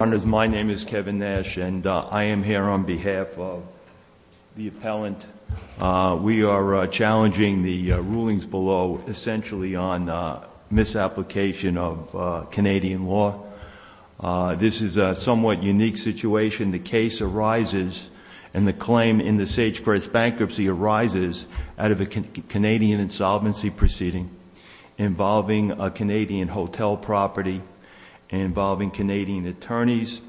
Honours, my name is Kevin Nash and I am here on behalf of the appellant. We are challenging the rulings below essentially on misapplication of Canadian law. This is a somewhat unique situation. The case arises and the claim in the SageCrest bankruptcy arises out of a Canadian insolvency proceeding involving a Canadian hotel property, involving Canadian attorneys,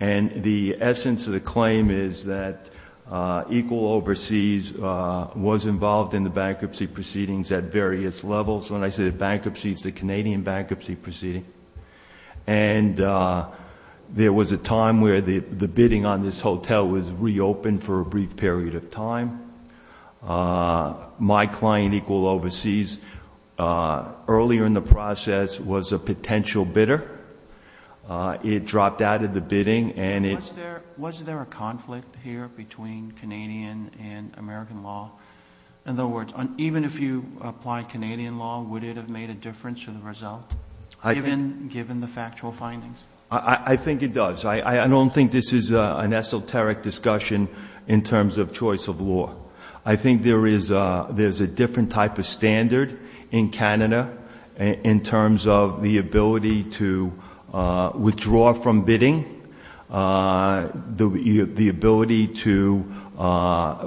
and the essence of the claim is that Equal Overseas was involved in the bankruptcy proceedings at various levels. When I say bankruptcy, it's the Canadian bankruptcy proceeding. And there was a time where the bidding on this hotel was reopened for a brief period of time. My client, Equal Overseas, earlier in the process was a potential bidder. It dropped out of the bidding and it- Was there a conflict here between Canadian and American law? In other words, even if you applied Canadian law, would it have made a difference to the result, given the factual findings? I think it does. I don't think this is an esoteric discussion in terms of choice of law. I think there is a different type of standard in Canada in terms of the ability to withdraw from bidding, the ability to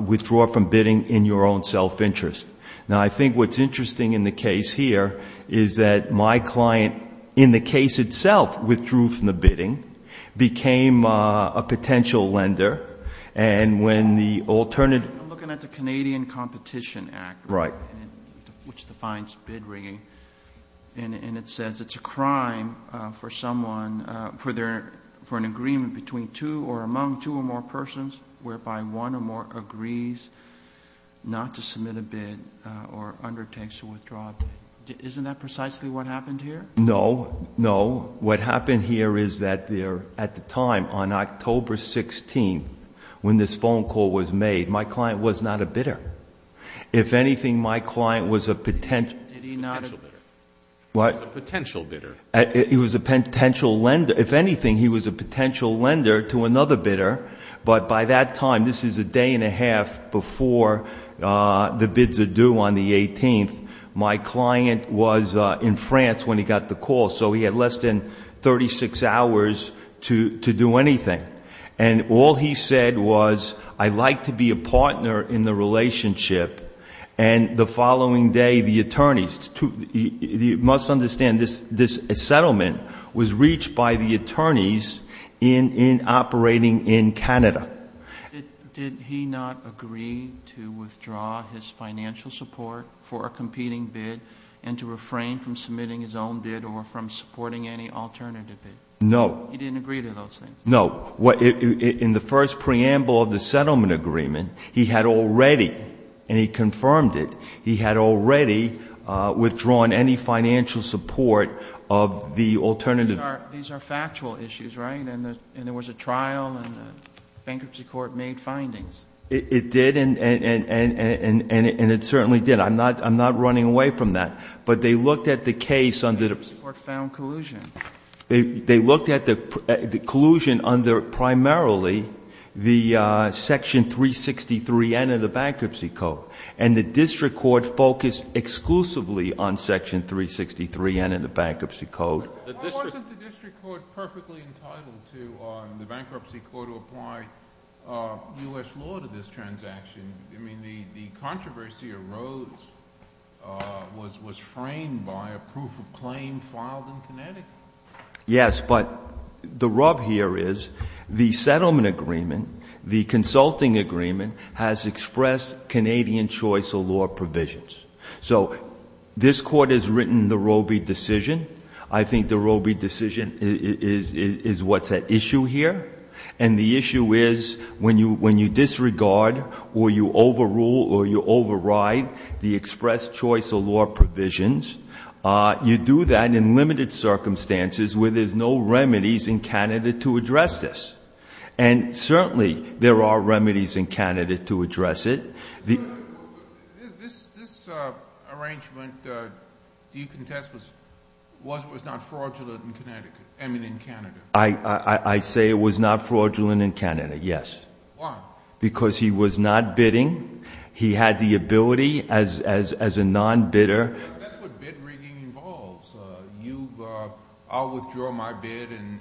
withdraw from bidding in your own self-interest. Now I think what's interesting in the case here is that my client in the case itself withdrew from the bidding became a potential lender and when the alternative- I'm looking at the Canadian Competition Act. Right. Which defines bid rigging. And it says it's a crime for someone, for an agreement between two or among two or more persons whereby one or more agrees not to submit a bid or undertakes to withdraw. Isn't that precisely what happened here? No, no. What happened here is that at the time, on October 16th, when this phone call was made, my client was not a bidder. If anything, my client was a potential- Did he not? Potential bidder. What? He was a potential bidder. He was a potential lender. If anything, he was a potential lender to another bidder. But by that time, this is a day and a half before the bids are due on the 18th, my client was in France when he got the call, so he had less than 36 hours to do anything. And all he said was, I'd like to be a partner in the relationship. And the following day, the attorneys, you must understand this settlement was reached by the attorneys in operating in Canada. Did he not agree to withdraw his financial support for a competing bid and to refrain from submitting his own bid or from supporting any alternative bid? No. He didn't agree to those things? No. In the first preamble of the settlement agreement, he had already, and he confirmed it, he had already withdrawn any financial support of the alternative. These are factual issues, right? And there was a trial, and the bankruptcy court made findings. It did, and it certainly did. I'm not running away from that. But they looked at the case under the- The court found collusion. They looked at the collusion under primarily the Section 363N of the Bankruptcy Code. And the district court focused exclusively on Section 363N of the Bankruptcy Code. Why wasn't the district court perfectly entitled to, the bankruptcy court, to apply U.S. law to this transaction? I mean, the controversy arose, was framed by a proof of claim filed in Connecticut. Yes, but the rub here is the settlement agreement, the consulting agreement, has expressed Canadian choice of law provisions. So this court has written the Roby decision. I think the Roby decision is what's at issue here. And the issue is, when you disregard or you overrule or you override the expressed choice of law provisions, you do that in limited circumstances where there's no remedies in Canada to address this. And certainly, there are remedies in Canada to address it. This arrangement, do you contest, was not fraudulent in Canada? I say it was not fraudulent in Canada, yes. Why? Because he was not bidding. He had the ability as a non-bidder. That's what bid rigging involves. I'll withdraw my bid and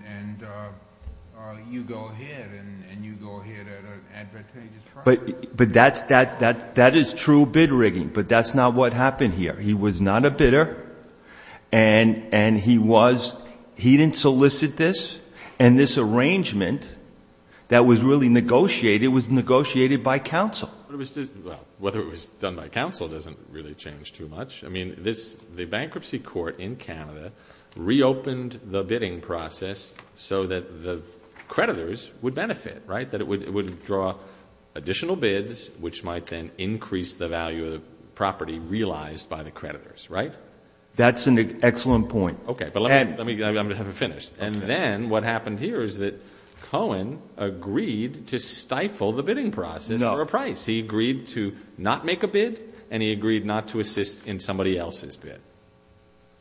you go ahead and you go ahead at an advantageous price. But that is true bid rigging, but that's not what happened here. He was not a bidder, and he didn't solicit this. And this arrangement that was really negotiated was negotiated by counsel. Whether it was done by counsel doesn't really change too much. I mean, the bankruptcy court in Canada reopened the bidding process so that the creditors would benefit, right? That it would withdraw additional bids, which might then increase the value of the property realized by the creditors, right? That's an excellent point. Okay, but let me finish. And then what happened here is that Cohen agreed to stifle the bidding process for a price. He agreed to not make a bid, and he agreed not to assist in somebody else's bid,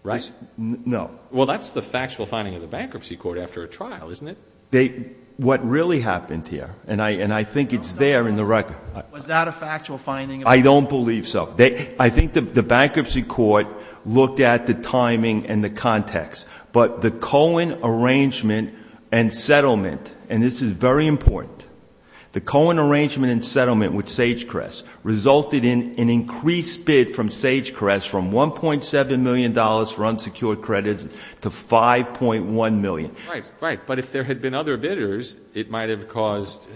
right? No. Well, that's the factual finding of the bankruptcy court after a trial, isn't it? What really happened here, and I think it's there in the record. Was that a factual finding? I don't believe so. I think the bankruptcy court looked at the timing and the context. But the Cohen arrangement and settlement, and this is very important. The Cohen arrangement and settlement with Sagecrest resulted in an increased bid from Sagecrest from $1.7 million for unsecured credits to $5.1 million. Right, right. But if there had been other bidders, it might have caused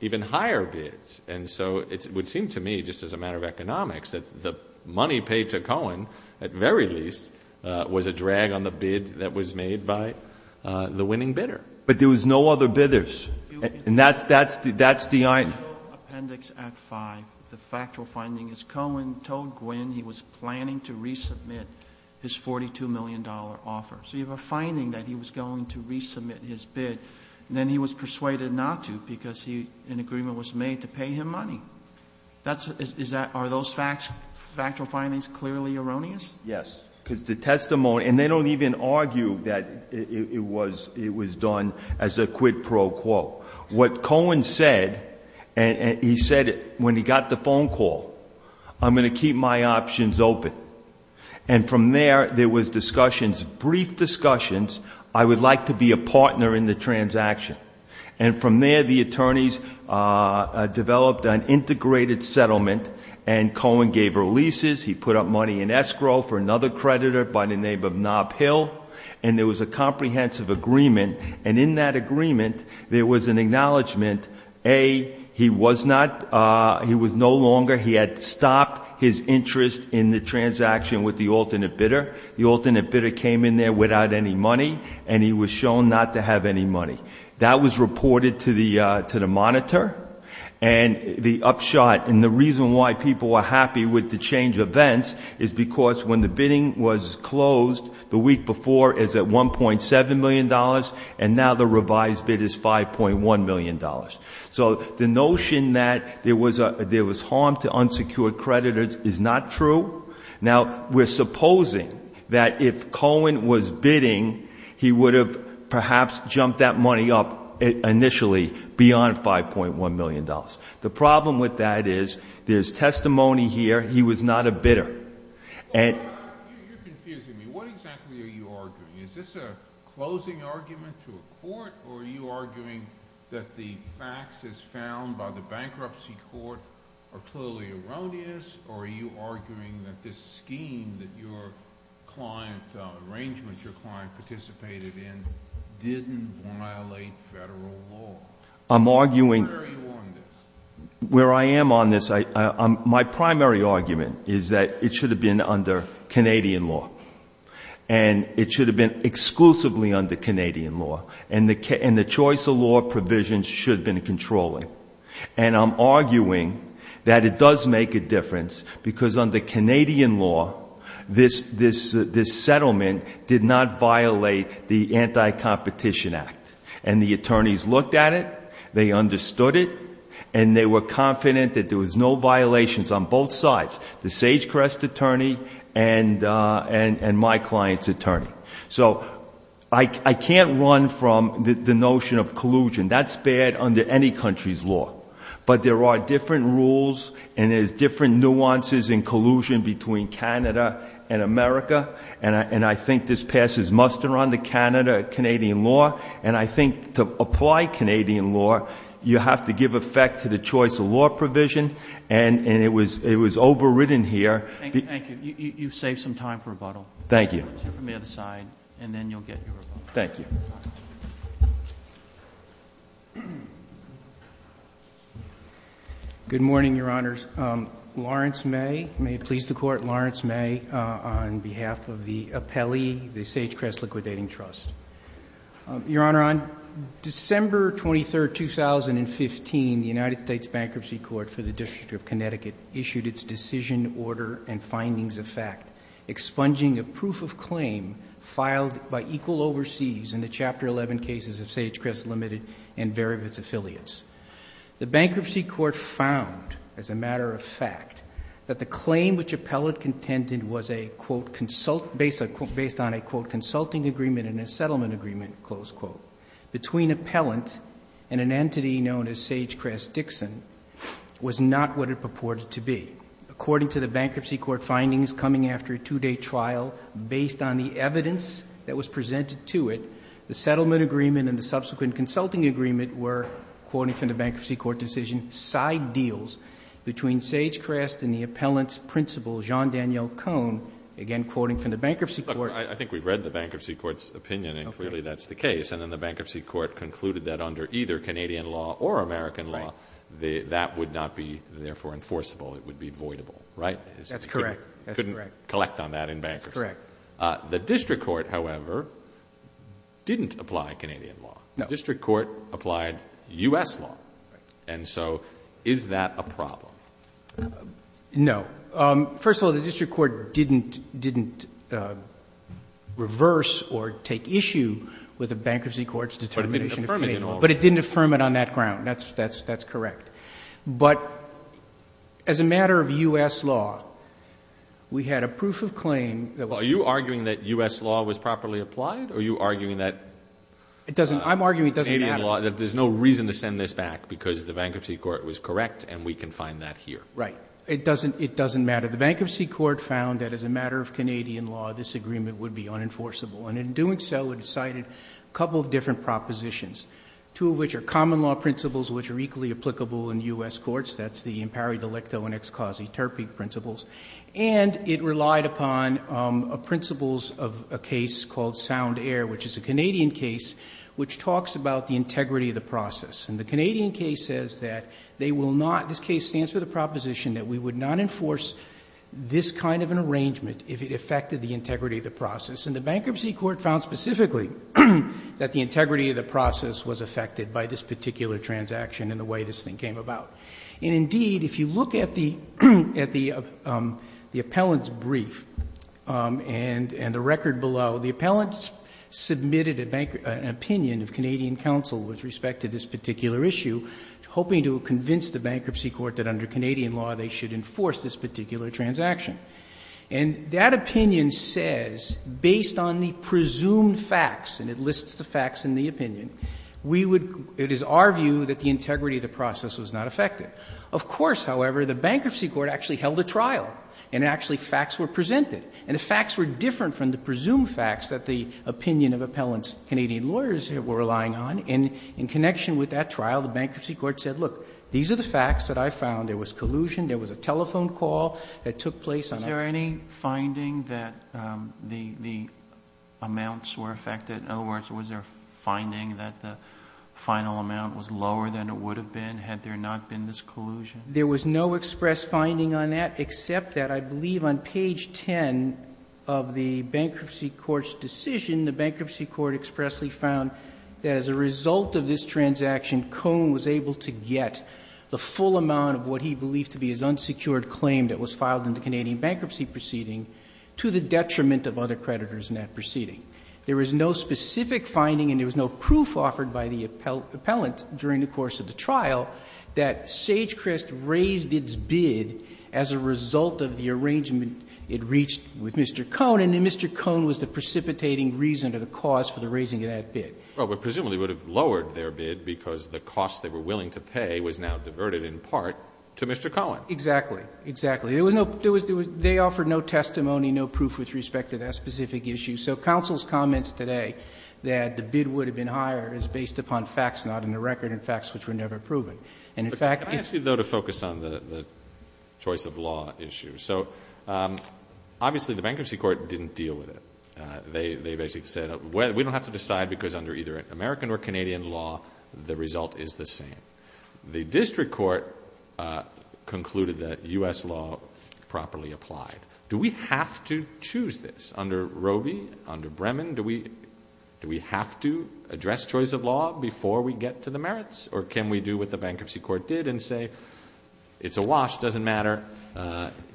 even higher bids. And so it would seem to me, just as a matter of economics, that the money paid to Cohen, at very least, was a drag on the bid that was made by the winning bidder. But there was no other bidders. And that's the item. In the appendix at five, the factual finding is Cohen told Gwynne he was planning to resubmit his $42 million offer. So you have a finding that he was going to resubmit his bid. Then he was persuaded not to because an agreement was made to pay him money. Are those factual findings clearly erroneous? Yes, because the testimony, and they don't even argue that it was done as a quid pro quo. What Cohen said, he said when he got the phone call, I'm going to keep my options open. And from there, there was discussions, brief discussions. I would like to be a partner in the transaction. And from there, the attorneys developed an integrated settlement and Cohen gave her leases. He put up money in escrow for another creditor by the name of Knob Hill. And there was a comprehensive agreement. And in that agreement, there was an acknowledgement, A, he was no longer, he had stopped his interest in the transaction with the alternate bidder. The alternate bidder came in there without any money, and he was shown not to have any money. That was reported to the monitor. And the upshot, and the reason why people are happy with the change of events, is because when the bidding was closed, the week before is at $1.7 million, and now the revised bid is $5.1 million. So the notion that there was harm to unsecured creditors is not true. Now, we're supposing that if Cohen was bidding, he would have perhaps jumped that money up initially beyond $5.1 million. The problem with that is, there's testimony here, he was not a bidder. And- You're confusing me. What exactly are you arguing? Is this a closing argument to a court? Or are you arguing that the facts as found by the bankruptcy court are clearly erroneous? Or are you arguing that this scheme that your client, arrangement your client participated in, didn't violate federal law? I'm arguing- Where are you on this? Where I am on this, my primary argument is that it should have been under Canadian law. And it should have been exclusively under Canadian law. And the choice of law provisions should have been controlling. And I'm arguing that it does make a difference, because under Canadian law, this settlement did not violate the Anti-Competition Act. And the attorneys looked at it, they understood it, and they were confident that there was no violations on both sides. The Sagecrest attorney and my client's attorney. So, I can't run from the notion of collusion. That's bad under any country's law. But there are different rules, and there's different nuances in collusion between Canada and America. And I think this passes muster under Canada, Canadian law. And I think to apply Canadian law, you have to give effect to the choice of law provision. And it was overridden here. Thank you, thank you. You've saved some time for rebuttal. Thank you. Let's hear from the other side, and then you'll get your rebuttal. Thank you. Good morning, your honors. Lawrence May, may it please the court, Lawrence May on behalf of the appellee, the Sagecrest Liquidating Trust. Your honor, on December 23rd, 2015, the United States Bankruptcy Court for the District of Connecticut issued its decision order and findings of fact, expunging a proof of claim filed by equal oversees in the chapter 11 cases of Sagecrest Limited and Varivitz Affiliates. The bankruptcy court found, as a matter of fact, that the claim which appellate contended was a, I quote, consulting agreement in a settlement agreement, close quote, between appellant and an entity known as Sagecrest Dixon was not what it purported to be. According to the bankruptcy court findings coming after a two day trial, based on the evidence that was presented to it, the settlement agreement and the subsequent consulting agreement were, quoting from the bankruptcy court decision, side deals between Sagecrest and the appellant's principal, Jean Daniel Cohn, again quoting from the bankruptcy court. I think we've read the bankruptcy court's opinion and clearly that's the case. And then the bankruptcy court concluded that under either Canadian law or American law, that would not be, therefore, enforceable. It would be voidable, right? That's correct. Couldn't collect on that in bankruptcy. The district court, however, didn't apply Canadian law. The district court applied US law. And so, is that a problem? No. First of all, the district court didn't reverse or take issue with the bankruptcy court's determination. But it didn't affirm it on that ground. That's correct. But as a matter of US law, we had a proof of claim that was- Are you arguing that US law was properly applied? Or are you arguing that- I'm arguing it doesn't matter. There's no reason to send this back because the bankruptcy court was correct and we can find that here. Right. It doesn't matter. The bankruptcy court found that as a matter of Canadian law, this agreement would be unenforceable. And in doing so, it cited a couple of different propositions. Two of which are common law principles, which are equally applicable in US courts. That's the impari delicto and ex causae terpi principles. And it relied upon principles of a case called Sound Air, which is a Canadian case, which talks about the integrity of the process. And the Canadian case says that they will not, this case stands for the proposition that we would not enforce this kind of an arrangement if it affected the integrity of the process. And the bankruptcy court found specifically that the integrity of the process was affected by this particular transaction and the way this thing came about. And indeed, if you look at the appellant's brief and the record below, the appellant submitted an opinion of Canadian counsel with respect to this particular issue, hoping to convince the bankruptcy court that under Canadian law they should enforce this particular transaction. And that opinion says, based on the presumed facts, and it lists the facts in the opinion, we would, it is our view that the integrity of the process was not affected. Of course, however, the bankruptcy court actually held a trial and actually facts were presented. And the facts were different from the presumed facts that the opinion of appellant's Canadian lawyers were relying on. And in connection with that trial, the bankruptcy court said, look, these are the facts that I found. There was collusion. There was a telephone call that took place. Was there any finding that the amounts were affected? In other words, was there finding that the final amount was lower than it would have been had there not been this collusion? There was no express finding on that except that I believe on page 10 of the bankruptcy court's decision, the bankruptcy court expressly found that as a result of this transaction, Coon was able to get the full amount of what he believed to be his bankruptcy proceeding to the detriment of other creditors in that proceeding. There was no specific finding and there was no proof offered by the appellant during the course of the trial that Sagecrest raised its bid as a result of the arrangement it reached with Mr. Coon, and Mr. Coon was the precipitating reason or the cause for the raising of that bid. Well, but presumably it would have lowered their bid because the cost they were willing to pay was now diverted in part to Mr. Coon. Exactly. Exactly. They offered no testimony, no proof with respect to that specific issue. So counsel's comments today that the bid would have been higher is based upon facts not in the record and facts which were never proven. But can I ask you, though, to focus on the choice of law issue? So obviously the bankruptcy court didn't deal with it. They basically said we don't have to decide because under either American or Canadian law the result is the same. The district court concluded that U.S. law properly applied. Do we have to choose this? Under Roby, under Bremen, do we have to address choice of law before we get to the merits or can we do what the bankruptcy court did and say it's a wash, doesn't matter,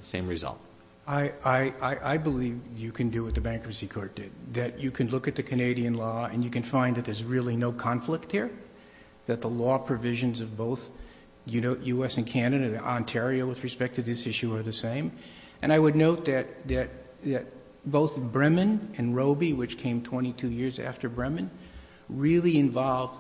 same result? I believe you can do what the bankruptcy court did, that you can look at the Canadian law and you can find that there's really no conflict here, that the law provisions of both U.S. and Canada and Ontario with respect to this issue are the same. And I would note that both Bremen and Roby, which came 22 years after Bremen, really involved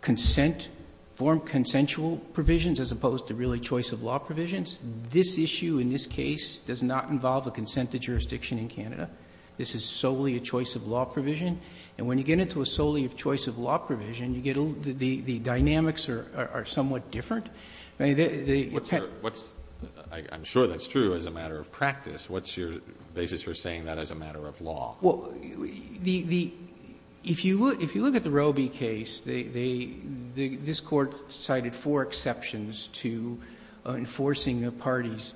consent, formed consensual provisions as opposed to really choice of law provisions. This issue in this case does not involve a consent to jurisdiction in Canada. This is solely a choice of law provision. And when you get into a solely choice of law provision, you get the dynamics are somewhat different. I mean, the penalty. Alito, I'm sure that's true as a matter of practice. What's your basis for saying that as a matter of law? Well, if you look at the Roby case, this Court cited four exceptions to enforcing the parties.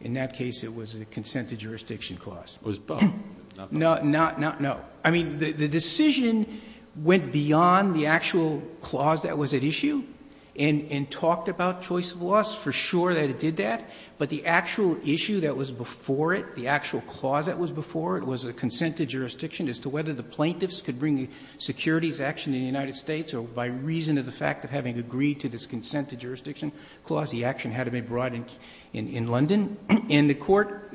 In that case, it was a consent to jurisdiction clause. It was both, not both. No, not no. I mean, the decision went beyond the actual clause that was at issue and talked about choice of laws, for sure that it did that. But the actual issue that was before it, the actual clause that was before it, was a consent to jurisdiction as to whether the plaintiffs could bring securities action in the United States or by reason of the fact of having agreed to this consent to jurisdiction clause, the action had to be brought in London. And the Court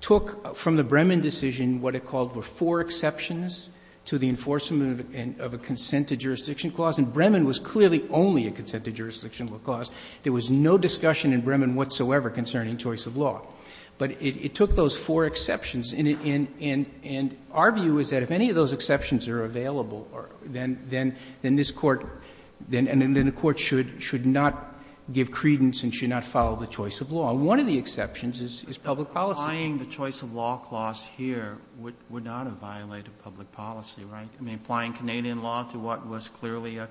took from the Bremen decision what it called were four exceptions to the enforcement of a consent to jurisdiction clause. And Bremen was clearly only a consent to jurisdiction clause. There was no discussion in Bremen whatsoever concerning choice of law. But it took those four exceptions. And our view is that if any of those exceptions are available, then this Court and then the Court should not give credence and should not follow the choice of law. One of the exceptions is public policy. Kennedy, applying the choice of law clause here would not have violated public policy, right? I mean, applying Canadian law to what was clearly a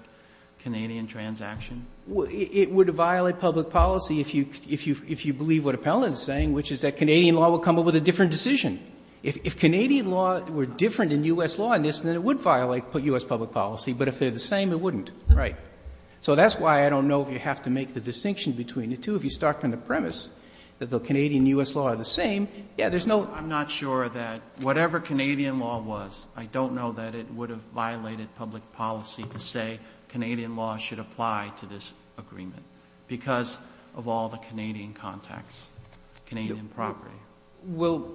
Canadian transaction? It would violate public policy if you believe what Appellant is saying, which is that Canadian law would come up with a different decision. If Canadian law were different than U.S. law in this, then it would violate U.S. public policy. But if they're the same, it wouldn't, right? So that's why I don't know if you have to make the distinction between the two. If you start from the premise that the Canadian and U.S. law are the same, yeah, there's no ‑‑ I'm not sure that whatever Canadian law was, I don't know that it would have violated public policy to say Canadian law should apply to this agreement because of all the Canadian context, Canadian property.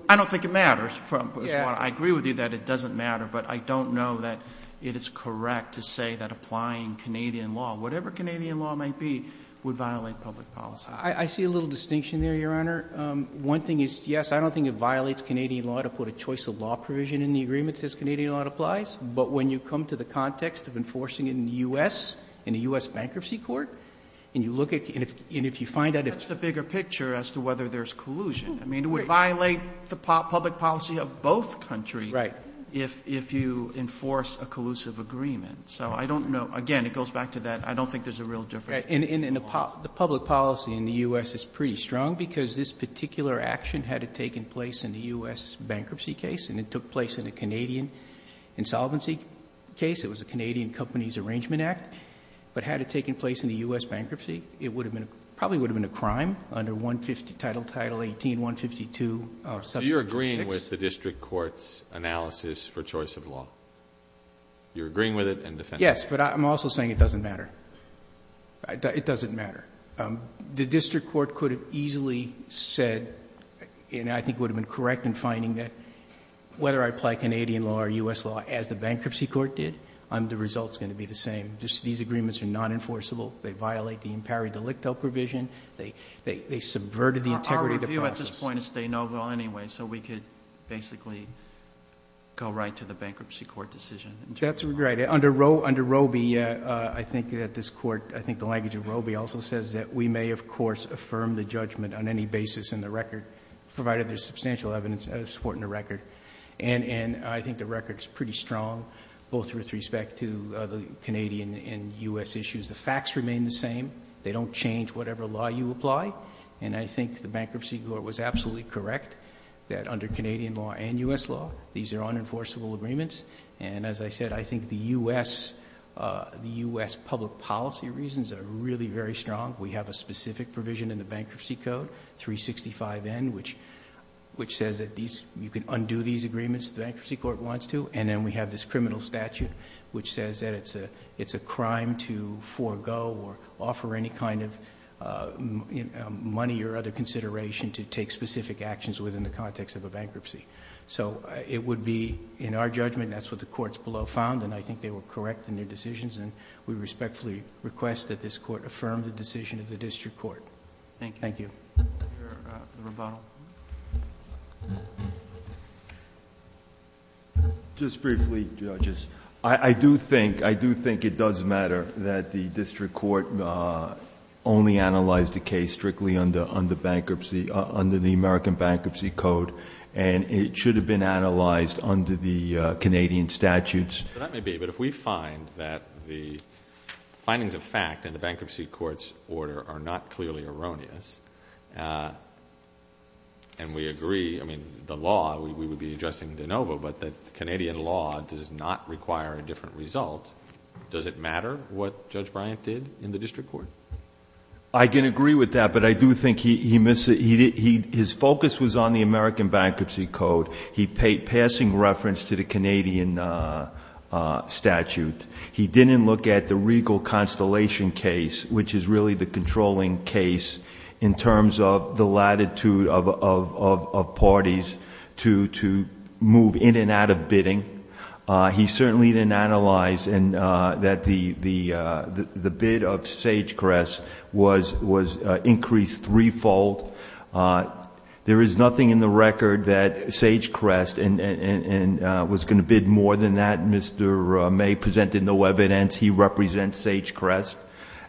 I don't think it matters. I agree with you that it doesn't matter. But I don't know that it is correct to say that applying Canadian law, whatever Canadian law might be, would violate public policy. I see a little distinction there, Your Honor. One thing is, yes, I don't think it violates Canadian law to put a choice of law provision in the agreement as Canadian law applies. But when you come to the context of enforcing it in the U.S., in a U.S. bankruptcy court, and you look at ‑‑ That's the bigger picture as to whether there's collusion. I mean, it would violate the public policy of both countries if you enforce a collusive agreement. So I don't know. Again, it goes back to that. I don't think there's a real difference. The public policy in the U.S. is pretty strong because this particular action had it taken place in the U.S. bankruptcy case, and it took place in a Canadian insolvency case. It was a Canadian companies arrangement act. But had it taken place in the U.S. bankruptcy, it probably would have been a crime under Title 18, 152, or subsection 6. So you're agreeing with the district court's analysis for choice of law? You're agreeing with it and defending it? Yes. But I'm also saying it doesn't matter. It doesn't matter. The district court could have easily said, and I think would have been correct in finding that whether I apply Canadian law or U.S. law as the bankruptcy court did, the result is going to be the same. These agreements are nonenforceable. They violate the impari delicto provision. They subverted the integrity of the process. Our view at this point is stay noble anyway, so we could basically go right to the bankruptcy court decision. That's right. Under Roe v. I think that this court, I think the language of Roe v. also says that we may, of course, affirm the judgment on any basis in the record, provided there's substantial evidence supporting the record. And I think the record is pretty strong, both with respect to the Canadian and U.S. issues. The facts remain the same. They don't change whatever law you apply. And I think the bankruptcy court was absolutely correct that under Canadian law and U.S. law, these are unenforceable agreements. And as I said, I think the U.S. public policy reasons are really very strong. We have a specific provision in the Bankruptcy Code, 365N, which says that these, you can undo these agreements if the bankruptcy court wants to. And then we have this criminal statute which says that it's a crime to forego or offer any kind of money or other consideration to take specific actions within the context of a bankruptcy. So it would be, in our judgment, that's what the courts below found. And I think they were correct in their decisions. And we respectfully request that this court affirm the decision of the district court. Thank you. Thank you. Mr. Rubato. Just briefly, judges. I do think it does matter that the district court only analyzed the case strictly under the American Bankruptcy Code, and it should have been analyzed under the Canadian statutes. That may be. But if we find that the findings of fact in the bankruptcy court's order are not clearly erroneous, and we agree, I mean, the law, we would be addressing de novo, but that Canadian law does not require a different result, does it matter what Judge Bryant did in the district court? I can agree with that, but I do think he missed it. His focus was on the American Bankruptcy Code. He paid passing reference to the Canadian statute. He didn't look at the regal constellation case, which is really the controlling case in terms of the latitude of parties to move in and out of bidding. He certainly didn't analyze that the bid of Sagecrest was increased threefold. There is nothing in the record that Sagecrest was going to bid more than that. Mr. May presented no evidence. He represents Sagecrest.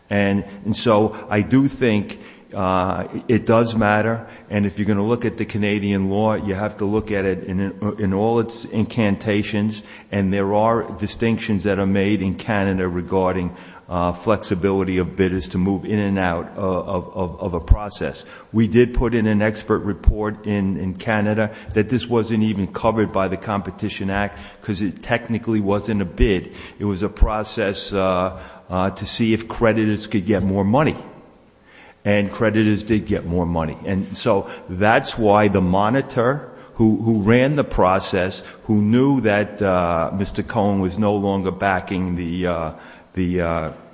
And so I do think it does matter, and if you're going to look at the Canadian law, you have to look at it in all its incantations, and there are distinctions that are made in Canada regarding flexibility of bidders to move in and out of a process. We did put in an expert report in Canada that this wasn't even covered by the Competition Act because it technically wasn't a bid. It was a process to see if creditors could get more money, and creditors did get more money. And so that's why the monitor who ran the process, who knew that Mr. Cohen was no longer backing the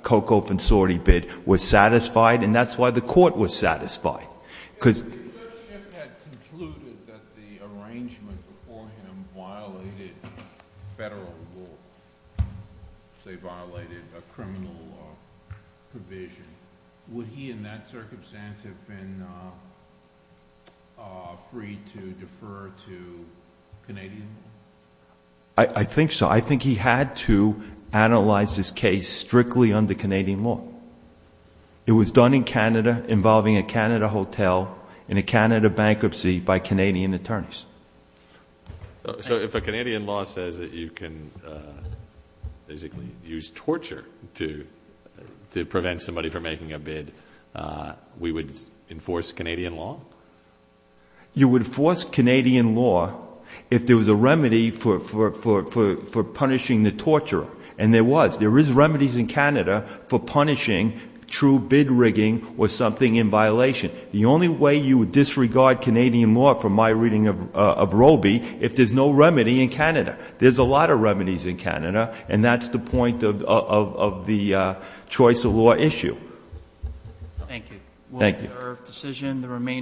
Cocoa-Fonsorti bid, was satisfied, and that's why the Court was satisfied. If the leadership had concluded that the arrangement before him violated federal law, say violated a criminal provision, would he in that circumstance have been free to defer to Canadian law? I think so. I think he had to analyze this case strictly under Canadian law. It was done in Canada involving a Canada hotel and a Canada bankruptcy by Canadian attorneys. So if a Canadian law says that you can basically use torture to prevent somebody from making a bid, we would enforce Canadian law? You would enforce Canadian law if there was a remedy for punishing the torturer, and there was. There was remedies in Canada for punishing true bid rigging or something in violation. The only way you would disregard Canadian law, from my reading of Roby, if there's no remedy in Canada. There's a lot of remedies in Canada, and that's the point of the choice of law issue. Thank you. Thank you.